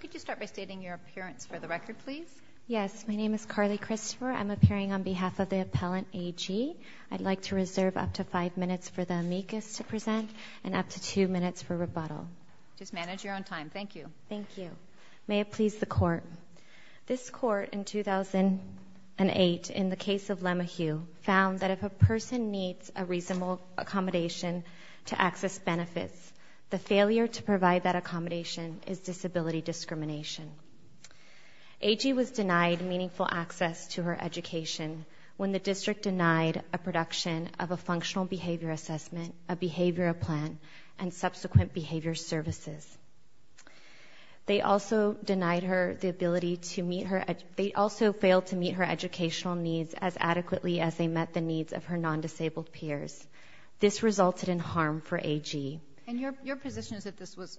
Could you start by stating your appearance for the record, please? Yes. My name is Carly Christopher. I'm appearing on behalf of the Appellant A.G. I'd like to reserve up to five minutes for the amicus to present and up to two minutes for rebuttal. Just manage your own time. Thank you. Thank you. May it please the Court. This Court in 2008, in the case of Lemahew, found that if a person needs a reasonable accommodation to access benefits, the failure to provide that accommodation is disability discrimination. A.G. was denied meaningful access to her education when the district denied a production of a functional behavior assessment, a behavior plan, and subsequent behavior services. They also failed to meet her educational needs as adequately as they met the needs of her non-disabled peers. This resulted in harm for A.G. And your position is that this was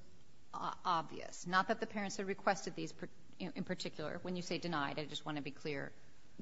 obvious, not that the parents had requested these in particular. When you say denied, I just want to be clear.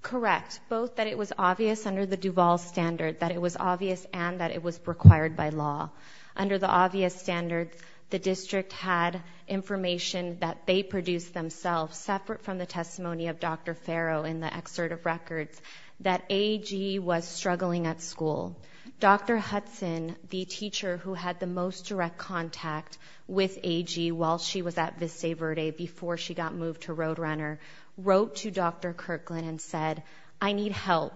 Correct. Both that it was obvious under the Duval standard, that it was obvious and that it was required by law. Under the obvious standards, the district had information that they produced themselves, separate from the testimony of Dr. Farrow in the excerpt of records, that A.G. was struggling at school. Dr. Hudson, the teacher who had the most direct contact with A.G. while she was at Vista Verde, before she got moved to Roadrunner, wrote to Dr. Kirkland and said, I need help,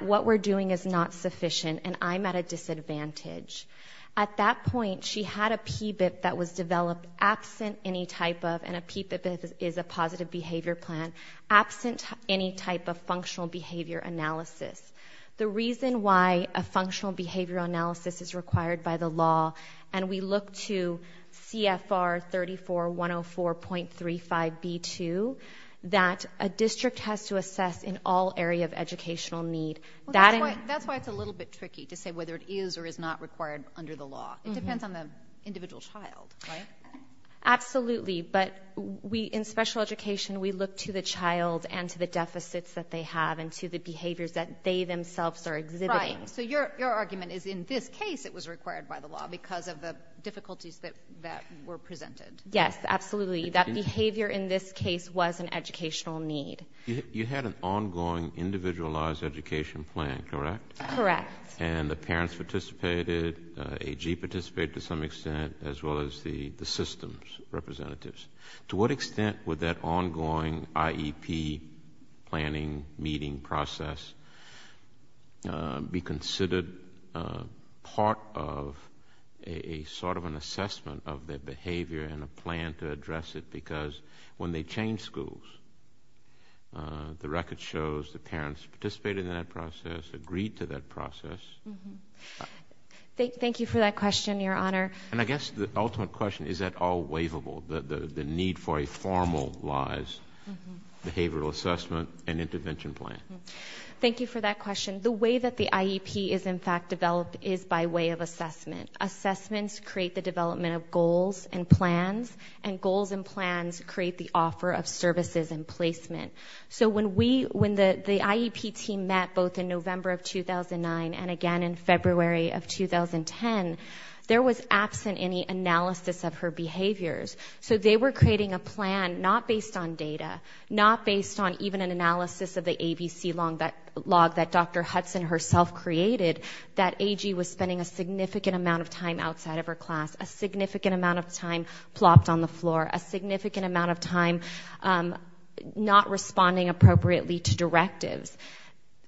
what we're doing is not sufficient, and I'm at a disadvantage. At that point, she had a PBIP that was developed absent any type of, and a PBIP is a positive behavior plan, absent any type of functional behavior analysis. The reason why a functional behavior analysis is required by the law, and we look to CFR 34104.35b2, that a district has to assess in all area of educational need. That's why it's a little bit tricky to say whether it is or is not required under the law. It depends on the individual child, right? Absolutely, but in special education, we look to the child and to the deficits that they have and to the behaviors that they themselves are exhibiting. Right, so your argument is in this case it was required by the law because of the difficulties that were presented. Yes, absolutely. That behavior in this case was an educational need. You had an ongoing individualized education plan, correct? Correct. And the parents participated, A.G. participated to some extent, as well as the systems representatives. To what extent would that ongoing IEP planning meeting process be considered part of a sort of an assessment of their behavior and a plan to address it? Because when they change schools, the record shows the parents participated in that process, agreed to that process. Thank you for that question, Your Honor. And I guess the ultimate question, is that all waivable, the need for a formalized behavioral assessment and intervention plan? Thank you for that question. The way that the IEP is in fact developed is by way of assessment. Assessments create the development of goals and plans, and goals and plans create the offer of services and placement. So when the IEP team met both in November of 2009 and again in February of 2010, there was absent any analysis of her behaviors. So they were creating a plan not based on data, not based on even an analysis of the ABC log that Dr. Hudson herself created, that A.G. was spending a significant amount of time outside of her class, a significant amount of time plopped on the floor, a significant amount of time not responding appropriately to directives.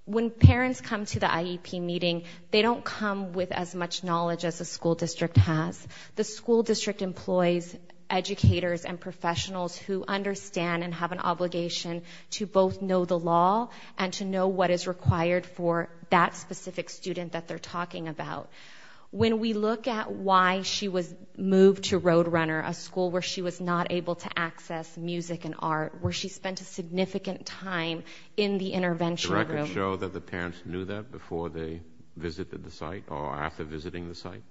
When parents come to the IEP meeting, they don't come with as much knowledge as a school district has. The school district employs educators and professionals who understand and have an obligation to both know the law and to know what is required for that specific student that they're talking about. When we look at why she was moved to Roadrunner, a school where she was not able to access music and art, where she spent a significant time in the intervention room. The records show that the parents knew that before they visited the site or after visiting the site?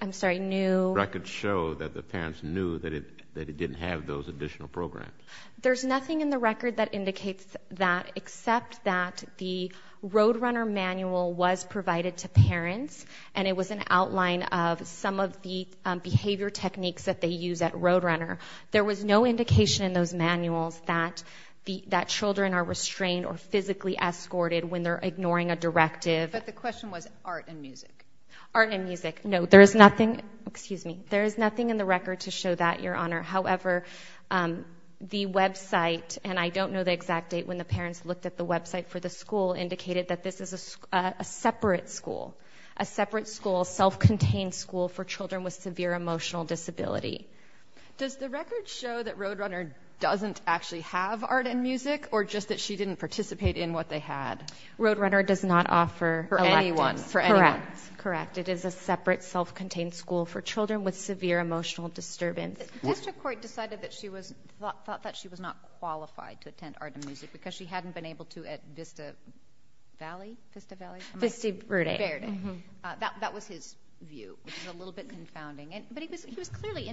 I'm sorry, knew. Records show that the parents knew that it didn't have those additional programs. There's nothing in the record that indicates that, except that the Roadrunner manual was provided to parents and it was an outline of some of the behavior techniques that they use at Roadrunner. There was no indication in those manuals that children are restrained or physically escorted when they're ignoring a directive. But the question was art and music. Art and music. No, there is nothing in the record to show that, Your Honor. However, the website, and I don't know the exact date when the parents looked at the website for the school, indicated that this is a separate school, a separate school, self-contained school for children with severe emotional disability. Does the record show that Roadrunner doesn't actually have art and music or just that she didn't participate in what they had? Roadrunner does not offer electives for anyone. Correct. It is a separate self-contained school for children with severe emotional disturbance. District Court decided that she was not qualified to attend art and music because she hadn't been able to at Vista Valley? Vista Valley? Vista Verde. Verde. That was his view, which is a little bit confounding. But he was clearly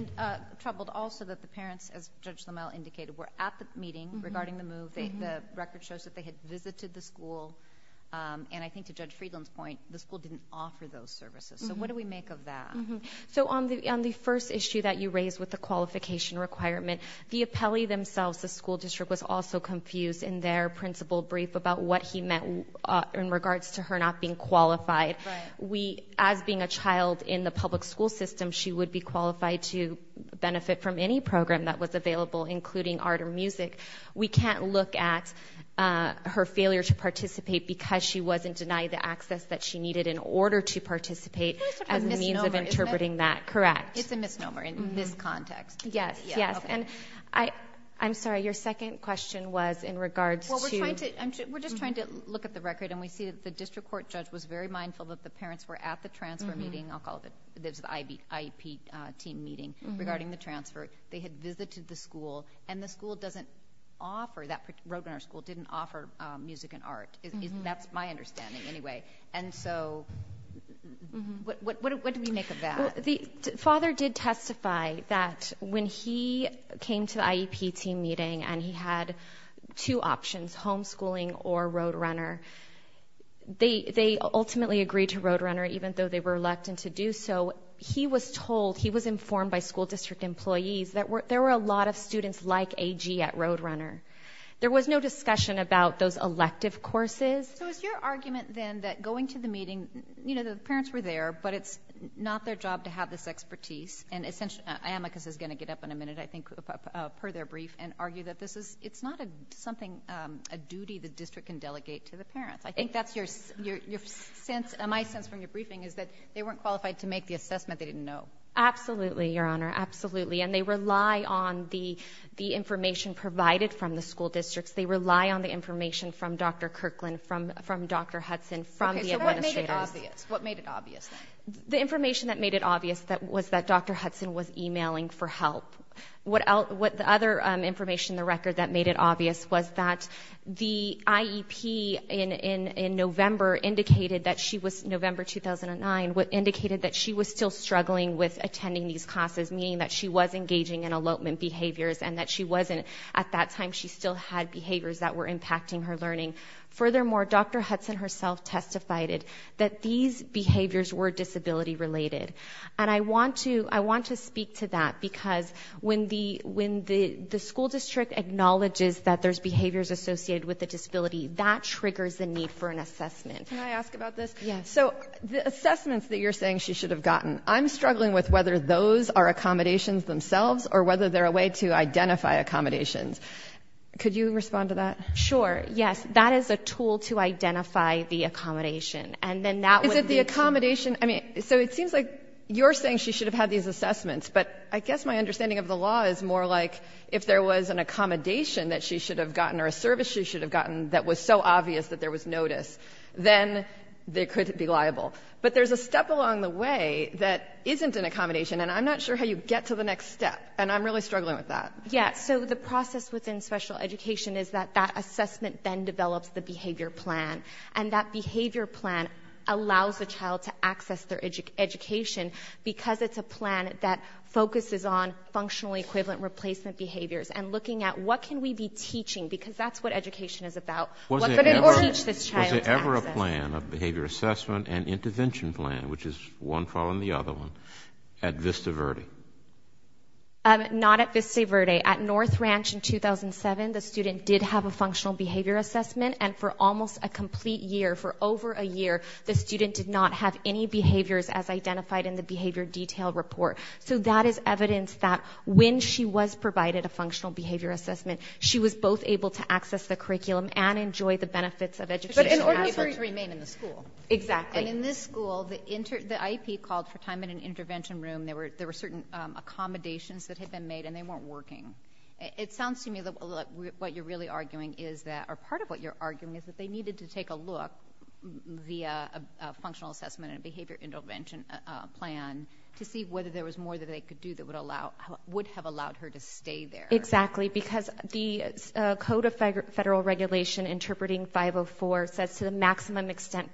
troubled also that the parents, as Judge Lamel indicated, were at the meeting regarding the move. The record shows that they had visited the school. And I think to Judge Friedland's point, the school didn't offer those services. So what do we make of that? So on the first issue that you raised with the qualification requirement, the appellee themselves, the school district, was also confused in their principal brief about what he meant in regards to her not being qualified. Right. As being a child in the public school system, she would be qualified to benefit from any program that was available, including art or music. We can't look at her failure to participate because she wasn't denied the access that she needed in order to participate as a means of interpreting that. It's a misnomer, isn't it? Correct. It's a misnomer in this context. Yes, yes. And I'm sorry, your second question was in regards to? We're just trying to look at the record, and we see that the district court judge was very mindful that the parents were at the transfer meeting. I'll call it the IEP team meeting regarding the transfer. They had visited the school, and the school doesn't offer, that roadrunner school didn't offer music and art. That's my understanding anyway. And so what do we make of that? The father did testify that when he came to the IEP team meeting and he had two options, homeschooling or roadrunner, they ultimately agreed to roadrunner even though they were reluctant to do so. He was told, he was informed by school district employees that there were a lot of students like A.G. at roadrunner. There was no discussion about those elective courses. So is your argument then that going to the meeting, you know, the parents were there, but it's not their job to have this expertise, and essentially, I think per their brief and argue that this is, it's not something, a duty the district can delegate to the parents. I think that's your sense, my sense from your briefing is that they weren't qualified to make the assessment they didn't know. Absolutely, Your Honor, absolutely. And they rely on the information provided from the school districts. They rely on the information from Dr. Kirkland, from Dr. Hudson, from the administrators. Okay, so what made it obvious? What made it obvious then? The information that made it obvious was that Dr. Hudson was emailing for help. What the other information in the record that made it obvious was that the IEP in November indicated that she was, November 2009 indicated that she was still struggling with attending these classes, meaning that she was engaging in elopement behaviors and that she wasn't, at that time she still had behaviors that were impacting her learning. Furthermore, Dr. Hudson herself testified that these behaviors were disability related. And I want to speak to that because when the school district acknowledges that there's behaviors associated with a disability, that triggers the need for an assessment. Can I ask about this? Yes. So the assessments that you're saying she should have gotten, I'm struggling with whether those are accommodations themselves or whether they're a way to identify accommodations. Could you respond to that? Sure. Yes. That is a tool to identify the accommodation. And then that would lead to- Is it the accommodation? I mean, so it seems like you're saying she should have had these assessments, but I guess my understanding of the law is more like if there was an accommodation that she should have gotten or a service she should have gotten that was so obvious that there was notice, then they could be liable. But there's a step along the way that isn't an accommodation, and I'm not sure how you get to the next step, and I'm really struggling with that. Yeah. So the process within special education is that that assessment then develops the behavior plan, and that behavior plan allows the child to access their education because it's a plan that focuses on functional equivalent replacement behaviors and looking at what can we be teaching, because that's what education is about. What could we teach this child to access? Was there ever a plan, a behavior assessment and intervention plan, which is one following the other one, at Vista Verde? Not at Vista Verde. At North Ranch in 2007, the student did have a functional behavior assessment, and for almost a complete year, for over a year, the student did not have any behaviors as identified in the behavior detail report. So that is evidence that when she was provided a functional behavior assessment, she was both able to access the curriculum and enjoy the benefits of education. But in order for her to remain in the school. Exactly. And in this school, the IEP called for time in an intervention room. There were certain accommodations that had been made, and they weren't working. It sounds to me that what you're really arguing is that, or part of what you're arguing is that they needed to take a look via a functional assessment and a behavior intervention plan to see whether there was more that they could do that would have allowed her to stay there. Exactly, because the Code of Federal Regulation, Interpreting 504, says to the maximum extent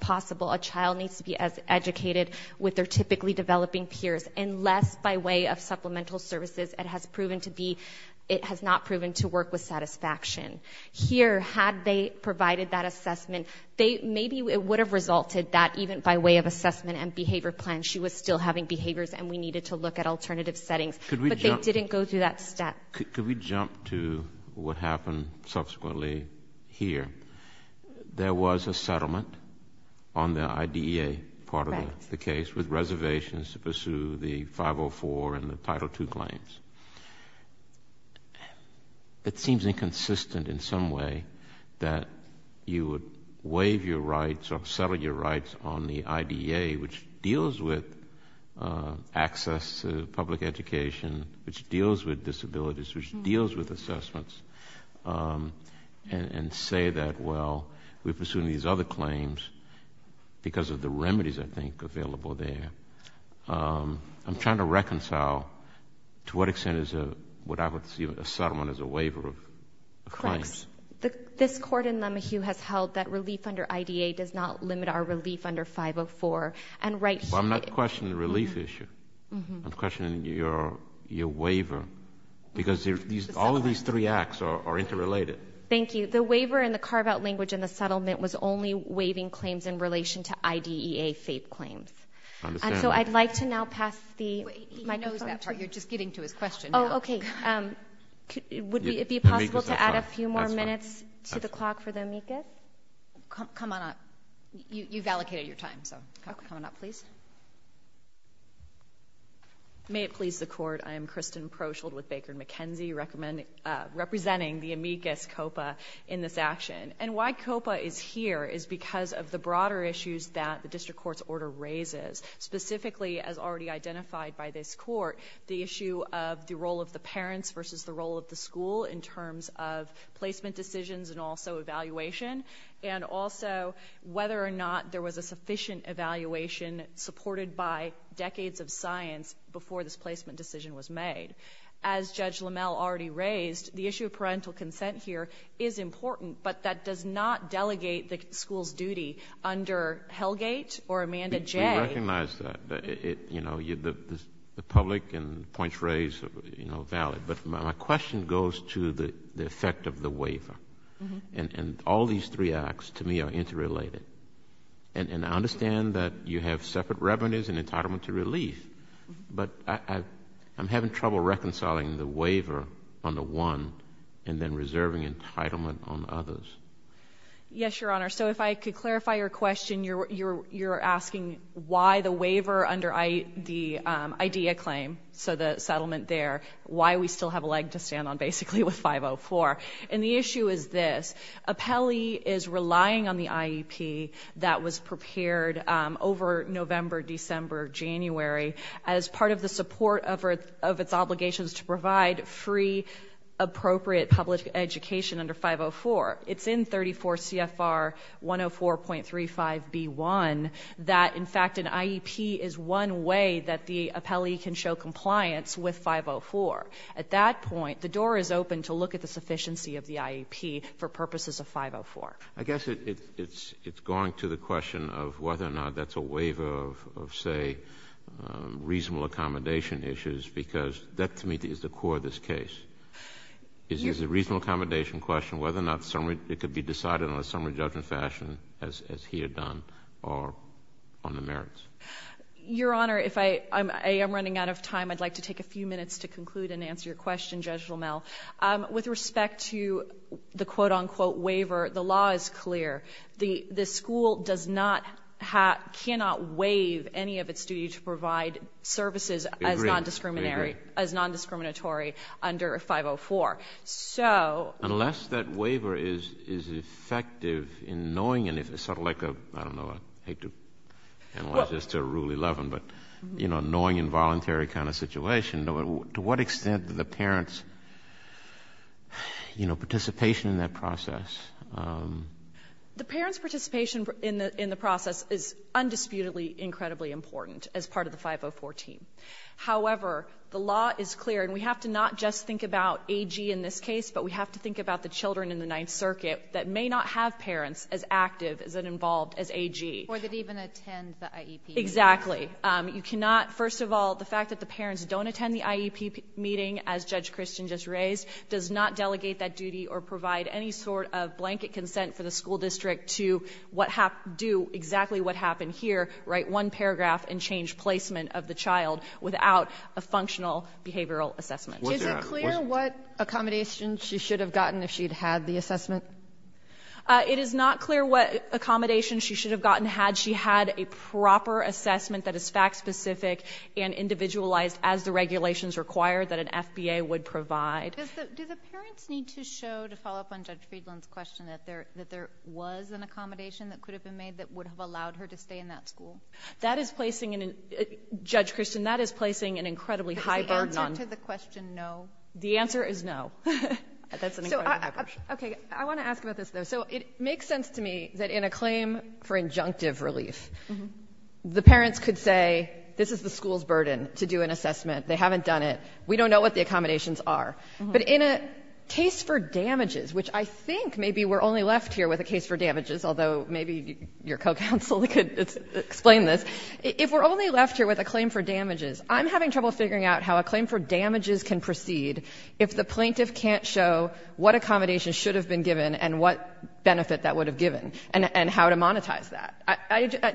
possible, a child needs to be as educated with their typically developing peers, unless by way of supplemental services it has not proven to work with satisfaction. Here, had they provided that assessment, maybe it would have resulted that even by way of assessment and behavior plan, she was still having behaviors and we needed to look at alternative settings. But they didn't go through that step. Could we jump to what happened subsequently here? There was a settlement on the IDEA part of the case with reservations to pursue the 504 and the Title II claims. It seems inconsistent in some way that you would waive your rights or settle your rights on the IDEA, which deals with access to public education, which deals with disabilities, which deals with assessments, and say that, well, we're pursuing these other claims because of the remedies, I think, available there. I'm trying to reconcile to what extent is a settlement a waiver of claims. Correct. This Court in Lemahieu has held that relief under IDEA does not limit our relief under 504. I'm not questioning the relief issue. I'm questioning your waiver. Because all of these three acts are interrelated. Thank you. The waiver and the carve-out language in the settlement was only waiving claims in relation to IDEA FAPE claims. So I'd like to now pass the microphone. He knows that part. You're just getting to his question now. Oh, okay. Would it be possible to add a few more minutes to the clock for the amicus? Come on up. You've allocated your time, so come on up, please. Yes, ma'am. May it please the Court, I am Kristen Proshield with Baker & McKenzie, representing the amicus COPA in this action. And why COPA is here is because of the broader issues that the District Court's order raises, specifically, as already identified by this Court, the issue of the role of the parents versus the role of the school in terms of placement decisions and also evaluation, and also whether or not there was a sufficient evaluation supported by decades of science before this placement decision was made. As Judge LaMalle already raised, the issue of parental consent here is important, but that does not delegate the school's duty under Hellgate or Amanda Jay. We recognize that. The public and the points raised are valid. But my question goes to the effect of the waiver. And all these three acts, to me, are interrelated. And I understand that you have separate revenues and entitlement to relief, but I'm having trouble reconciling the waiver on the one and then reserving entitlement on the others. Yes, Your Honor. So if I could clarify your question. You're asking why the waiver under the IDEA claim, so the settlement there, why we still have a leg to stand on, basically, with 504. And the issue is this. Appellee is relying on the IEP that was prepared over November, December, January, as part of the support of its obligations to provide free, appropriate public education under 504. It's in 34 CFR 104.35B1 that, in fact, an IEP is one way that the appellee can show compliance with 504. At that point, the door is open to look at the sufficiency of the IEP for purposes of 504. I guess it's going to the question of whether or not that's a waiver of, say, reasonable accommodation issues, because that, to me, is the core of this case. Is the reasonable accommodation question whether or not it could be decided on a summary judgment fashion, as he had done, or on the merits? Your Honor, I am running out of time. I'd like to take a few minutes to conclude and answer your question, Judge Limmel. With respect to the quote-unquote waiver, the law is clear. The school does not have ñ cannot waive any of its duty to provide services as non-discriminatory under 504. So ñ Unless that waiver is effective in knowing and if it's sort of like a ñ I don't know. I hate to analyze this to rule 11, but, you know, annoying involuntary kind of situation. To what extent do the parents, you know, participation in that process? The parents' participation in the process is undisputedly incredibly important as part of the 504 team. However, the law is clear, and we have to not just think about AG in this case, but we have to think about the children in the Ninth Circuit that may not have parents as active, as involved as AG. Or that even attend the IEP. Exactly. You cannot ñ first of all, the fact that the parents don't attend the IEP meeting, as Judge Christian just raised, does not delegate that duty or provide any sort of blanket consent for the school district to do exactly what happened here, write one paragraph and change placement of the child without a functional behavioral assessment. Is it clear what accommodation she should have gotten if she'd had the assessment? It is not clear what accommodation she should have gotten had she had a proper assessment that is fact-specific and individualized as the regulations require that an FBA would provide. Do the parents need to show, to follow up on Judge Friedland's question, that there was an accommodation that could have been made that would have allowed her to stay in that school? That is placing an ñ Judge Christian, that is placing an incredibly high burden on ñ Is the answer to the question no? The answer is no. That's an incredibly high burden. Okay. I want to ask about this, though. So it makes sense to me that in a claim for injunctive relief, the parents could say, this is the school's burden to do an assessment. They haven't done it. We don't know what the accommodations are. But in a case for damages, which I think maybe we're only left here with a case for damages, although maybe your co-counsel could explain this, if we're only left here with a claim for damages, I'm having trouble figuring out how a claim for damages can proceed if the plaintiff can't show what accommodations should have been given and what benefit that would have given and how to monetize that.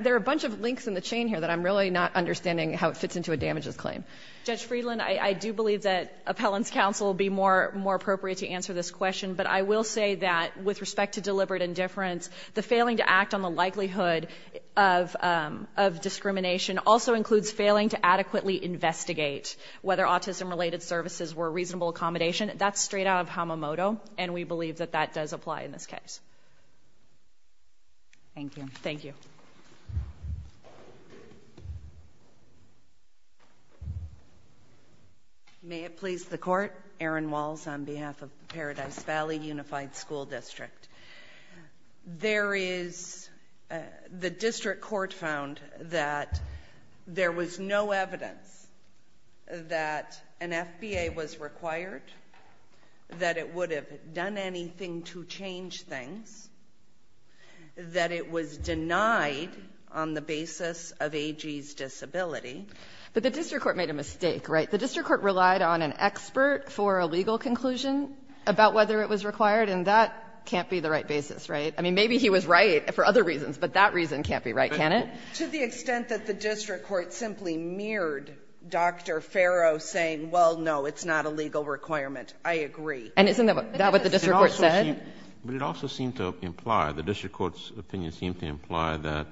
There are a bunch of links in the chain here that I'm really not understanding how it fits into a damages claim. Judge Friedland, I do believe that appellant's counsel would be more appropriate to answer this question, but I will say that with respect to deliberate indifference, the failing to act on the likelihood of discrimination also includes failing to adequately investigate whether autism-related services were a reasonable accommodation. That's straight out of Hamamoto, and we believe that that does apply in this case. Thank you. Thank you. May it please the Court. Erin Walls on behalf of Paradise Valley Unified School District. The district court found that there was no evidence that an FBA was required, that it would have done anything to change things, that it was denied on the basis of AG's disability. But the district court made a mistake, right? The district court relied on an expert for a legal conclusion about whether it was required, and that can't be the right basis, right? I mean, maybe he was right for other reasons, but that reason can't be right, can it? To the extent that the district court simply mirrored Dr. Farrow saying, well, no, it's not a legal requirement, I agree. And isn't that what the district court said? But it also seemed to imply, the district court's opinion seemed to imply that,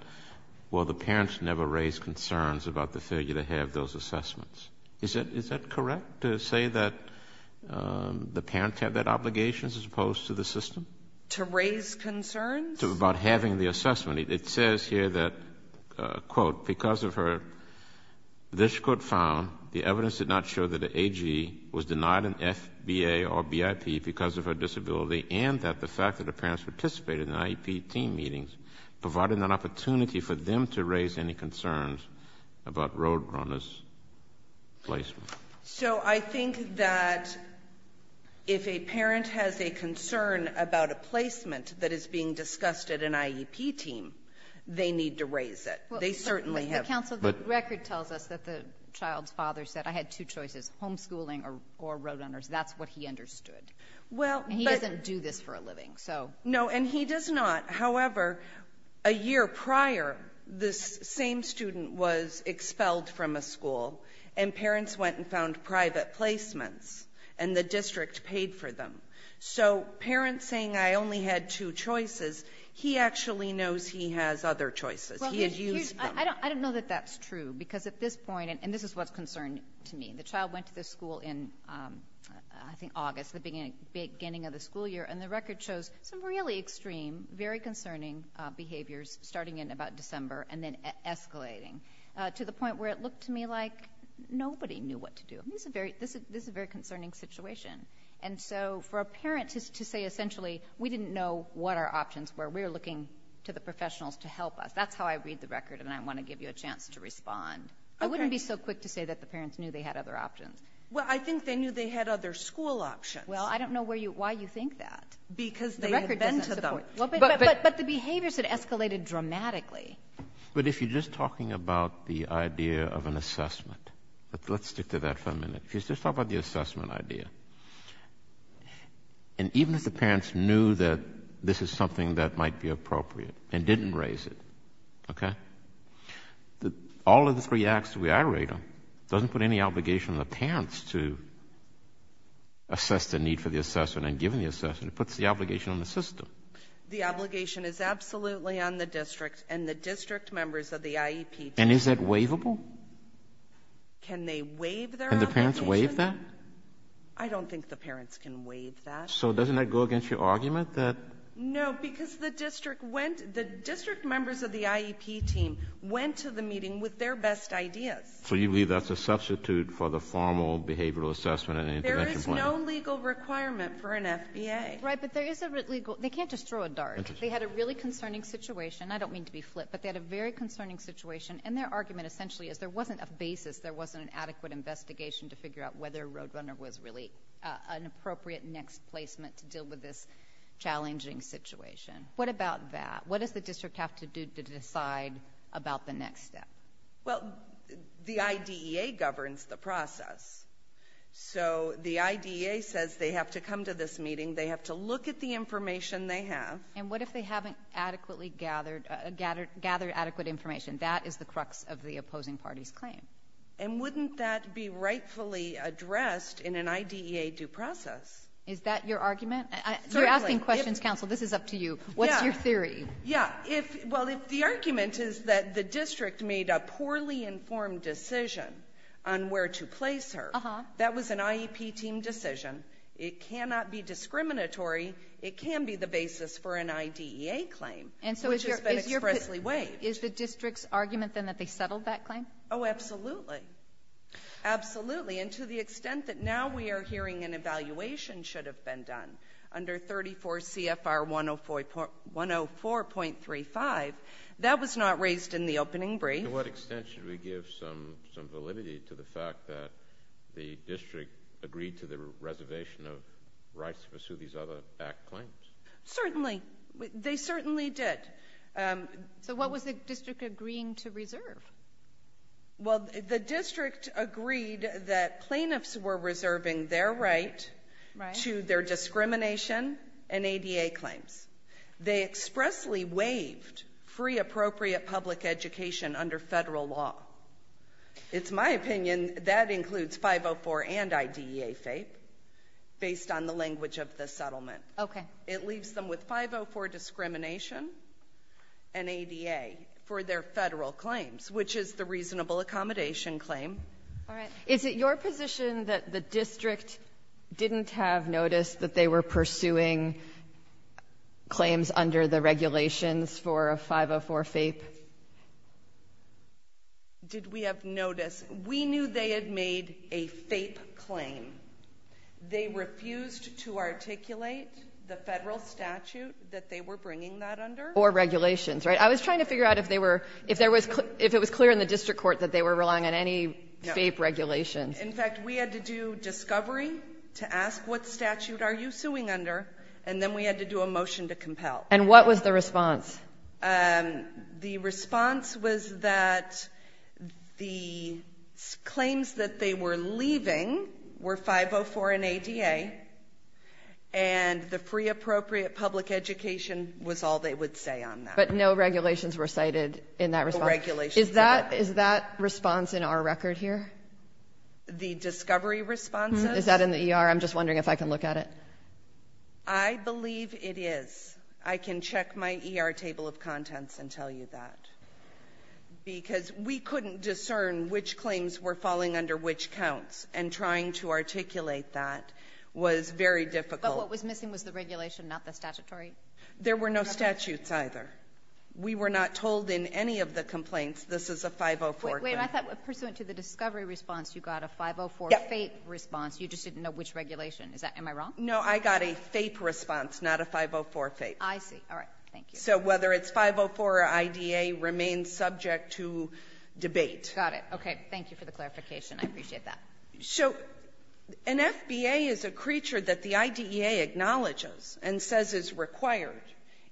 well, the parents never raised concerns about the failure to have those assessments. Is that correct, to say that the parents had that obligation as opposed to the system? To raise concerns? About having the assessment. It says here that, quote, because of her, the district court found the evidence did not show that an AG was denied an FBA or BIP because of her disability, and that the fact that the parents participated in the IEP team meetings provided an opportunity for them to raise any concerns about Roadrunner's placement. So I think that if a parent has a concern about a placement that is being discussed at an IEP team, they need to raise it. They certainly have. But the council record tells us that the child's father said, I had two choices, homeschooling or Roadrunner's. That's what he understood. And he doesn't do this for a living. No, and he does not. However, a year prior, this same student was expelled from a school, and parents went and found private placements, and the district paid for them. So parents saying, I only had two choices, he actually knows he has other choices. He has used them. I don't know that that's true, because at this point, and this is what's concerning to me, the child went to the school in, I think, August, the beginning of the school year, and the record shows some really extreme, very concerning behaviors starting in about December and then escalating to the point where it looked to me like nobody knew what to do. This is a very concerning situation. And so for a parent to say, essentially, we didn't know what our options were. We were looking to the professionals to help us. That's how I read the record, and I want to give you a chance to respond. I wouldn't be so quick to say that the parents knew they had other options. Well, I think they knew they had other school options. Well, I don't know why you think that. Because they had been to them. But the behaviors had escalated dramatically. But if you're just talking about the idea of an assessment, let's stick to that for a minute. If you just talk about the assessment idea, and even if the parents knew that this is something that might be appropriate and didn't raise it, okay, all of the three acts that we aggregate them doesn't put any obligation on the parents to assess the need for the assessment and give them the assessment. It puts the obligation on the system. The obligation is absolutely on the district and the district members of the IEP. And is that waivable? Can they waive their obligation? Can the parents waive that? I don't think the parents can waive that. So doesn't that go against your argument? No, because the district members of the IEP team went to the meeting with their best ideas. So you believe that's a substitute for the formal behavioral assessment and intervention plan? There is no legal requirement for an FBA. Right, but there is a legal. They can't just throw a dart. They had a really concerning situation. I don't mean to be flip, but they had a very concerning situation. And their argument essentially is there wasn't a basis, there wasn't an adequate investigation to figure out whether Roadrunner was really an appropriate placement to deal with this challenging situation. What about that? What does the district have to do to decide about the next step? Well, the IDEA governs the process. So the IDEA says they have to come to this meeting. They have to look at the information they have. And what if they haven't adequately gathered adequate information? That is the crux of the opposing party's claim. And wouldn't that be rightfully addressed in an IDEA due process? Is that your argument? You're asking questions, counsel. This is up to you. What's your theory? Yeah. Well, if the argument is that the district made a poorly informed decision on where to place her, that was an IEP team decision. It cannot be discriminatory. It can be the basis for an IDEA claim, which has been expressly waived. Is the district's argument, then, that they settled that claim? Oh, absolutely. Absolutely. And to the extent that now we are hearing an evaluation should have been done under 34 CFR 104.35, that was not raised in the opening brief. To what extent should we give some validity to the fact that the district agreed to the reservation of rights to pursue these other back claims? Certainly. They certainly did. So what was the district agreeing to reserve? Well, the district agreed that plaintiffs were reserving their right to their discrimination and ADA claims. They expressly waived free appropriate public education under federal law. It's my opinion that includes 504 and IDEA faith, based on the language of the settlement. Okay. It leaves them with 504 discrimination and ADA for their federal claims, which is the reasonable accommodation claim. All right. Is it your position that the district didn't have notice that they were pursuing claims under the regulations for a 504 FAPE? Did we have notice? We knew they had made a FAPE claim. They refused to articulate the federal statute that they were bringing that under. Or regulations, right? I was trying to figure out if it was clear in the district court that they were relying on any FAPE regulations. In fact, we had to do discovery to ask, what statute are you suing under? And then we had to do a motion to compel. And what was the response? The response was that the claims that they were leaving were 504 and ADA, and the free appropriate public education was all they would say on that. But no regulations were cited in that response? No regulations. Is that response in our record here? The discovery response? Is that in the ER? I'm just wondering if I can look at it. I believe it is. I can check my ER table of contents and tell you that. Because we couldn't discern which claims were falling under which counts, and trying to articulate that was very difficult. But what was missing was the regulation, not the statutory? There were no statutes either. We were not told in any of the complaints this is a 504 claim. Wait, I thought pursuant to the discovery response, you got a 504 FAPE response. You just didn't know which regulation. Am I wrong? No, I got a FAPE response, not a 504 FAPE. I see. All right. Thank you. So whether it's 504 or IDA remains subject to debate. Got it. Okay. Thank you for the clarification. I appreciate that. So an FBA is a creature that the IDEA acknowledges and says is required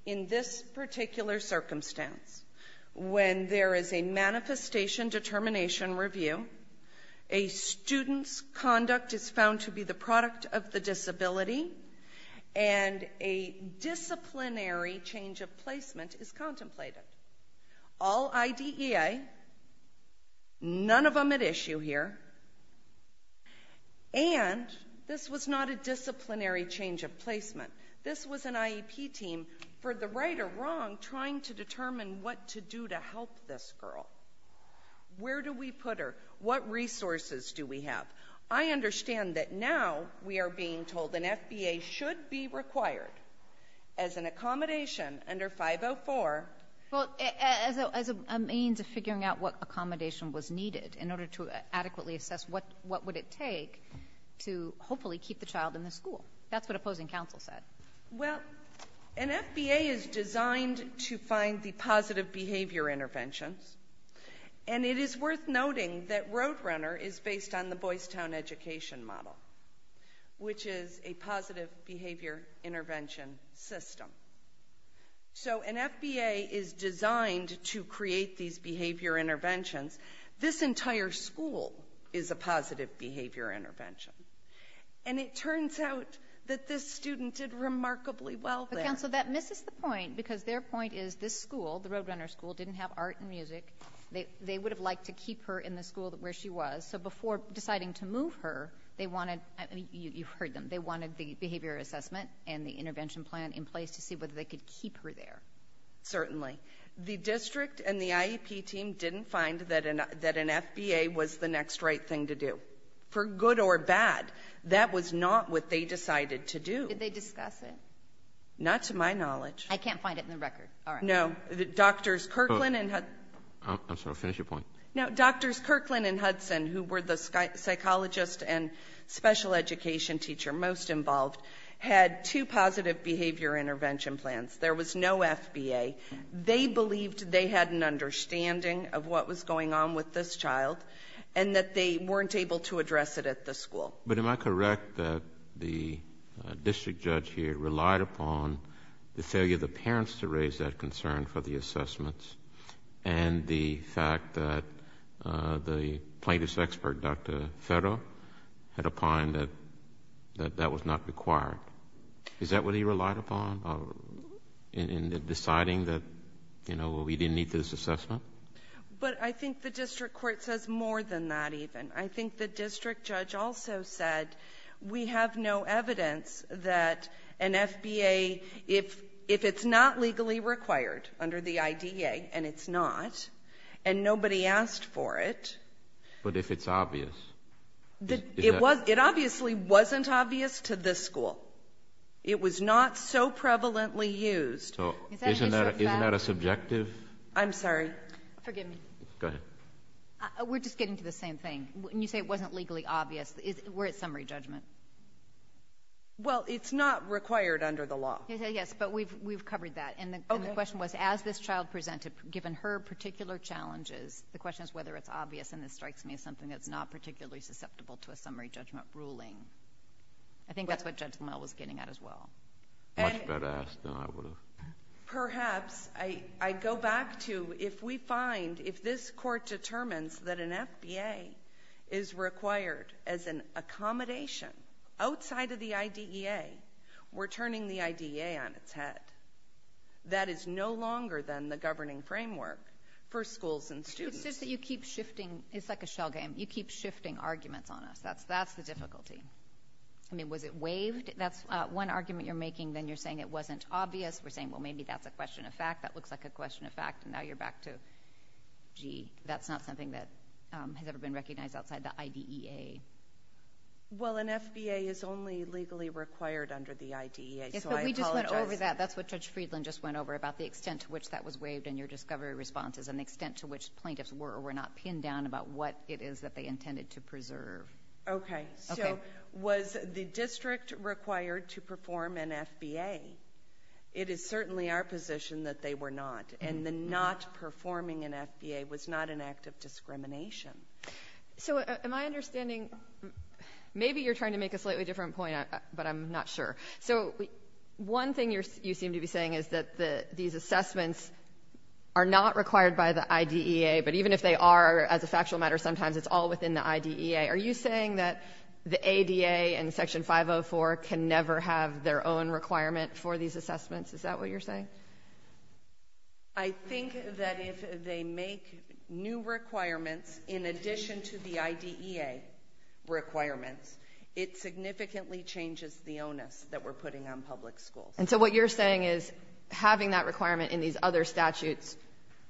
in this particular circumstance. When there is a manifestation determination review, a student's conduct is found to be the product of the disability, and a disciplinary change of placement is contemplated. All IDEA, none of them at issue here. And this was not a disciplinary change of placement. This was an IEP team, for the right or wrong, trying to determine what to do to help this girl. Where do we put her? What resources do we have? I understand that now we are being told an FBA should be required as an accommodation under 504. Well, as a means of figuring out what accommodation was needed in order to adequately assess what would it take to hopefully keep the child in the school. That's what opposing counsel said. Well, an FBA is designed to find the positive behavior interventions. And it is worth noting that Roadrunner is based on the Boys Town education model, which is a positive behavior intervention system. So an FBA is designed to create these behavior interventions. This entire school is a positive behavior intervention. And it turns out that this student did remarkably well there. But, counsel, that misses the point because their point is this school, the Roadrunner school, didn't have art and music. They would have liked to keep her in the school where she was. So before deciding to move her, they wanted, you heard them, they wanted the behavior assessment and the intervention plan in place to see whether they could keep her there. Certainly. The district and the IEP team didn't find that an FBA was the next right thing to do. For good or bad, that was not what they decided to do. Did they discuss it? Not to my knowledge. I can't find it in the record. All right. No. Doctors Kirkland and Hudson. I'm sorry. Finish your point. No. Doctors Kirkland and Hudson, who were the psychologist and special education teacher most involved, had two positive behavior intervention plans. There was no FBA. They believed they had an understanding of what was going on with this child and that they weren't able to address it at the school. But am I correct that the district judge here relied upon the failure of the parents to raise that concern for the assessments and the fact that the plaintiff's expert, Dr. Ferro, had opined that that was not required? Is that what he relied upon in deciding that, you know, we didn't need this assessment? But I think the district court says more than that even. I think the district judge also said we have no evidence that an FBA, if it's not legally required under the IDA, and it's not, and nobody asked for it... But if it's obvious? It obviously wasn't obvious to this school. It was not so prevalently used. Isn't that a subjective... I'm sorry. Forgive me. Go ahead. We're just getting to the same thing. You say it wasn't legally obvious. We're at summary judgment. Well, it's not required under the law. Yes, but we've covered that. And the question was, as this child presented, given her particular challenges, the question is whether it's obvious, and this strikes me as something that's not particularly susceptible to a summary judgment ruling. I think that's what Judge Limmel was getting at as well. Much better asked than I would have. Perhaps I go back to if we find, if this court determines that an FBA is required as an accommodation outside of the IDEA, we're turning the IDEA on its head. That is no longer, then, the governing framework for schools and students. It's just that you keep shifting. It's like a shell game. You keep shifting arguments on us. That's the difficulty. I mean, was it waived? That's one argument you're making. Then you're saying it wasn't obvious. We're saying, well, maybe that's a question of fact. That looks like a question of fact. And now you're back to, gee, that's not something that has ever been recognized outside the IDEA. Well, an FBA is only legally required under the IDEA, so I apologize. Yes, but we just went over that. That's what Judge Friedland just went over about the extent to which that was waived in your discovery responses and the extent to which plaintiffs were or were not pinned down about what it is that they intended to preserve. Okay. So, was the district required to perform an FBA? It is certainly our position that they were not, and the not performing an FBA was not an act of discrimination. So, am I understanding, maybe you're trying to make a slightly different point, but I'm not sure. So, one thing you seem to be saying is that these assessments are not required by the IDEA, but even if they are, as a factual matter, sometimes it's all within the IDEA. Are you saying that the ADA and Section 504 can never have their own requirement for these assessments? Is that what you're saying? I think that if they make new requirements in addition to the IDEA requirements, it significantly changes the onus that we're putting on public schools. And so, what you're saying is having that requirement in these other statutes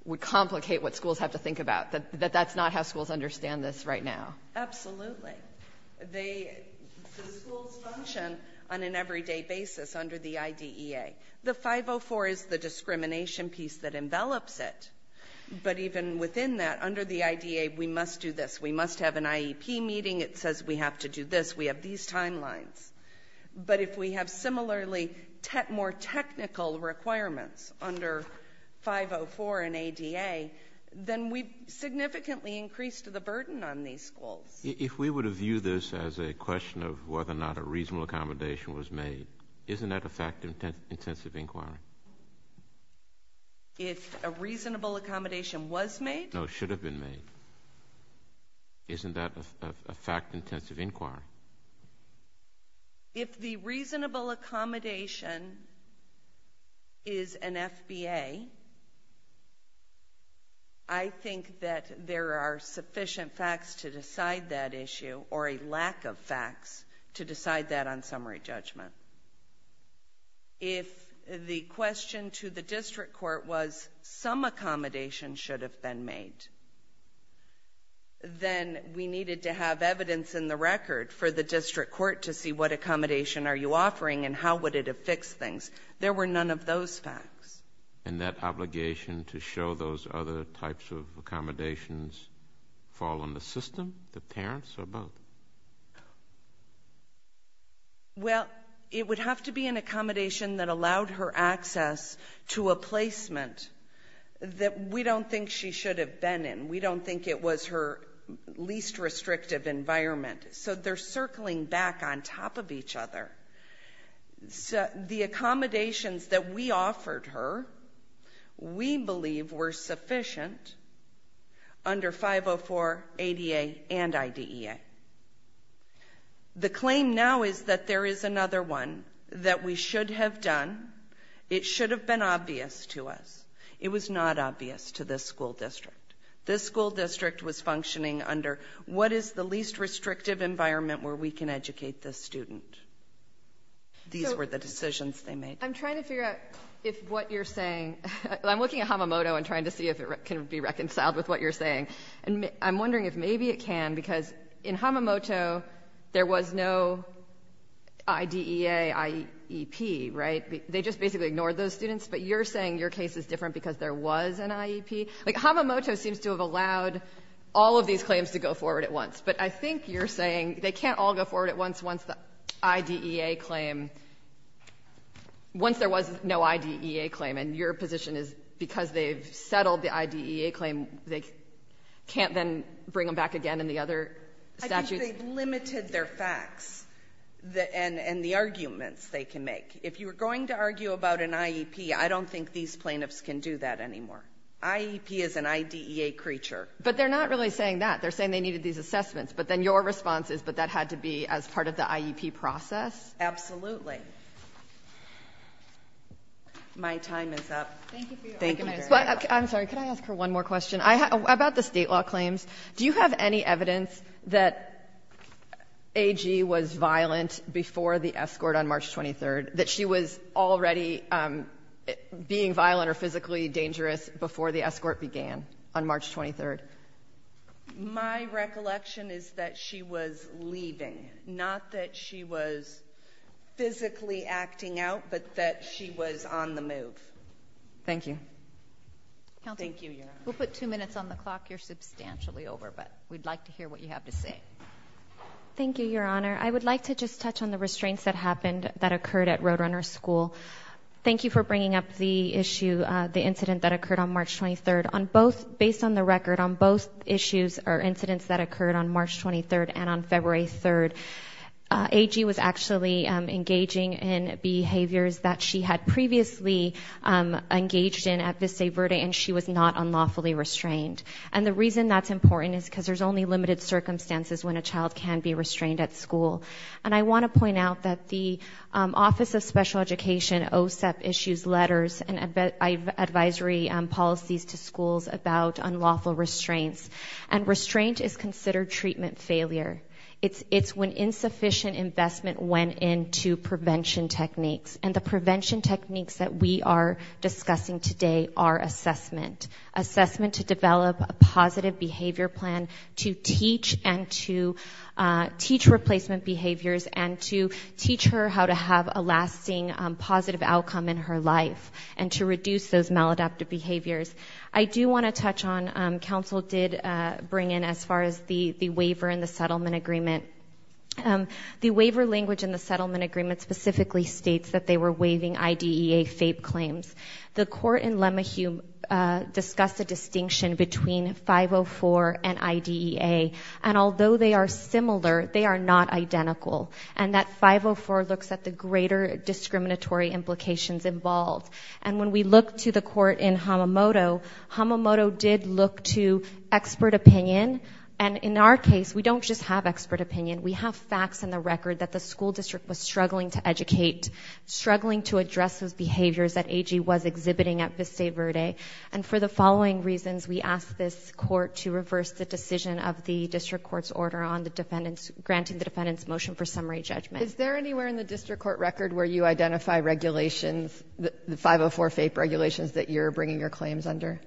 would complicate what schools have to think about, that that's not how schools understand this right now. Absolutely. The schools function on an everyday basis under the IDEA. The 504 is the discrimination piece that envelops it, but even within that, under the IDEA, we must do this. We must have an IEP meeting. It says we have to do this. We have these timelines. But, if we have similarly more technical requirements under 504 and ADA, then we significantly increase the burden on these schools. If we were to view this as a question of whether or not a reasonable accommodation was made, isn't that a fact-intensive inquiry? If a reasonable accommodation was made? No, should have been made. Isn't that a fact-intensive inquiry? If the reasonable accommodation is an FBA, I think that there are sufficient facts to decide that issue, or a lack of facts to decide that on summary judgment. If the question to the district court was some accommodation should have been made, then we needed to have evidence in the record for the district court to see what accommodation are you offering and how would it have fixed things. There were none of those facts. And that obligation to show those other types of accommodations fall on the system, the parents, or both? Well, it would have to be an accommodation that allowed her access to a placement that we don't think she should have been in. We don't think it was her least restrictive environment. So they're circling back on top of each other. The accommodations that we offered her, we believe were sufficient under 504, ADA, and IDEA. The claim now is that there is another one that we should have done. It should have been obvious to us. It was not obvious to this school district. This school district was functioning under what is the least restrictive environment where we can educate this student. These were the decisions they made. I'm trying to figure out if what you're saying, I'm looking at Hamamoto and trying to see if it can be reconciled with what you're saying. I'm wondering if maybe it can, because in Hamamoto there was no IDEA, IEP, right? They just basically ignored those students, but you're saying your case is different because there was an IEP? Like, Hamamoto seems to have allowed all of these claims to go forward at once, but I think you're saying they can't all go forward at once once the IDEA claim, once there was no IDEA claim, and your position is because they've settled the IDEA claim, they can't then bring them back again in the other statute? I think they've limited their facts and the arguments they can make. If you're going to argue about an IEP, I don't think these plaintiffs can do that anymore. IEP is an IDEA creature. But they're not really saying that. They're saying they needed these assessments, but then your response is, but that had to be as part of the IEP process? Absolutely. My time is up. Thank you for your argument. I'm sorry, could I ask her one more question? About the state law claims, do you have any evidence that AG was violent before the escort on March 23rd, that she was already being violent or physically dangerous before the escort began on March 23rd? My recollection is that she was leaving, not that she was physically acting out, but that she was on the move. Thank you. Thank you, Your Honor. We'll put two minutes on the clock. You're substantially over, but we'd like to hear what you have to say. Thank you, Your Honor. Your Honor, I would like to just touch on the restraints that happened, that occurred at Roadrunner School. Thank you for bringing up the issue, the incident that occurred on March 23rd. On both, based on the record, on both issues or incidents that occurred on March 23rd and on February 3rd, AG was actually engaging in behaviors that she had previously engaged in at Vista Verde, and she was not unlawfully restrained. And the reason that's important is because there's only limited circumstances when a And I want to point out that the Office of Special Education, OSEP, issues letters and advisory policies to schools about unlawful restraints. And restraint is considered treatment failure. It's when insufficient investment went into prevention techniques. And the prevention techniques that we are discussing today are assessment, assessment to develop a positive behavior plan, to teach and to teach replacement behaviors, and to teach her how to have a lasting positive outcome in her life, and to reduce those maladaptive behaviors. I do want to touch on, counsel did bring in, as far as the waiver and the settlement agreement. The waiver language in the settlement agreement specifically states that they were waiving IDEA FAPE claims. The court in Lemahieu discussed a distinction between 504 and IDEA. And although they are similar, they are not identical. And that 504 looks at the greater discriminatory implications involved. And when we look to the court in Hamamoto, Hamamoto did look to expert opinion. And in our case, we don't just have expert opinion. We have facts in the record that the school district was struggling to educate, struggling to address those behaviors that AG was exhibiting at Vista Verde. And for the following reasons, we asked this court to reverse the decision of the district court's order on the defendant's, granting the defendant's motion for summary judgment. Is there anywhere in the district court record where you identify regulations, the 504 FAPE regulations that you're bringing your claims under?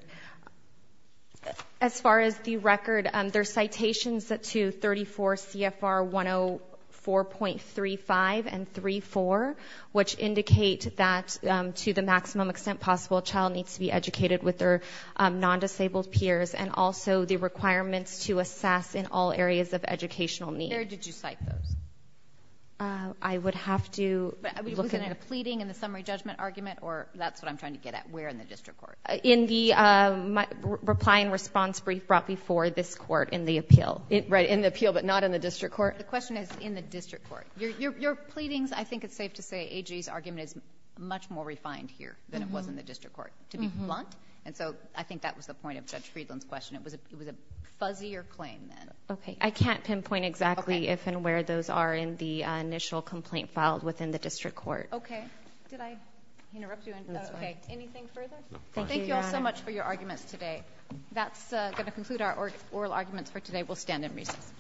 As far as the record, there are citations to 34 CFR 104.35 and 34, which indicate that to the maximum extent possible, a child needs to be educated with their non-disabled peers and also the requirements to assess in all areas of educational need. Where did you cite those? I would have to look at it. But was it a pleading in the summary judgment argument, or that's what I'm trying to get at, where in the district court? In the reply and response brief brought before this court in the appeal. Right, in the appeal, but not in the district court? The question is in the district court. Your pleadings, I think it's safe to say AG's argument is much more refined here than it was in the district court, to be blunt. And so I think that was the point of Judge Friedland's question. It was a fuzzier claim then. Okay. I can't pinpoint exactly if and where those are in the initial complaint filed within the district court. Okay. Did I interrupt you? Okay. Anything further? Thank you all so much for your arguments today. That's going to conclude our oral arguments for today. We'll stand and recess.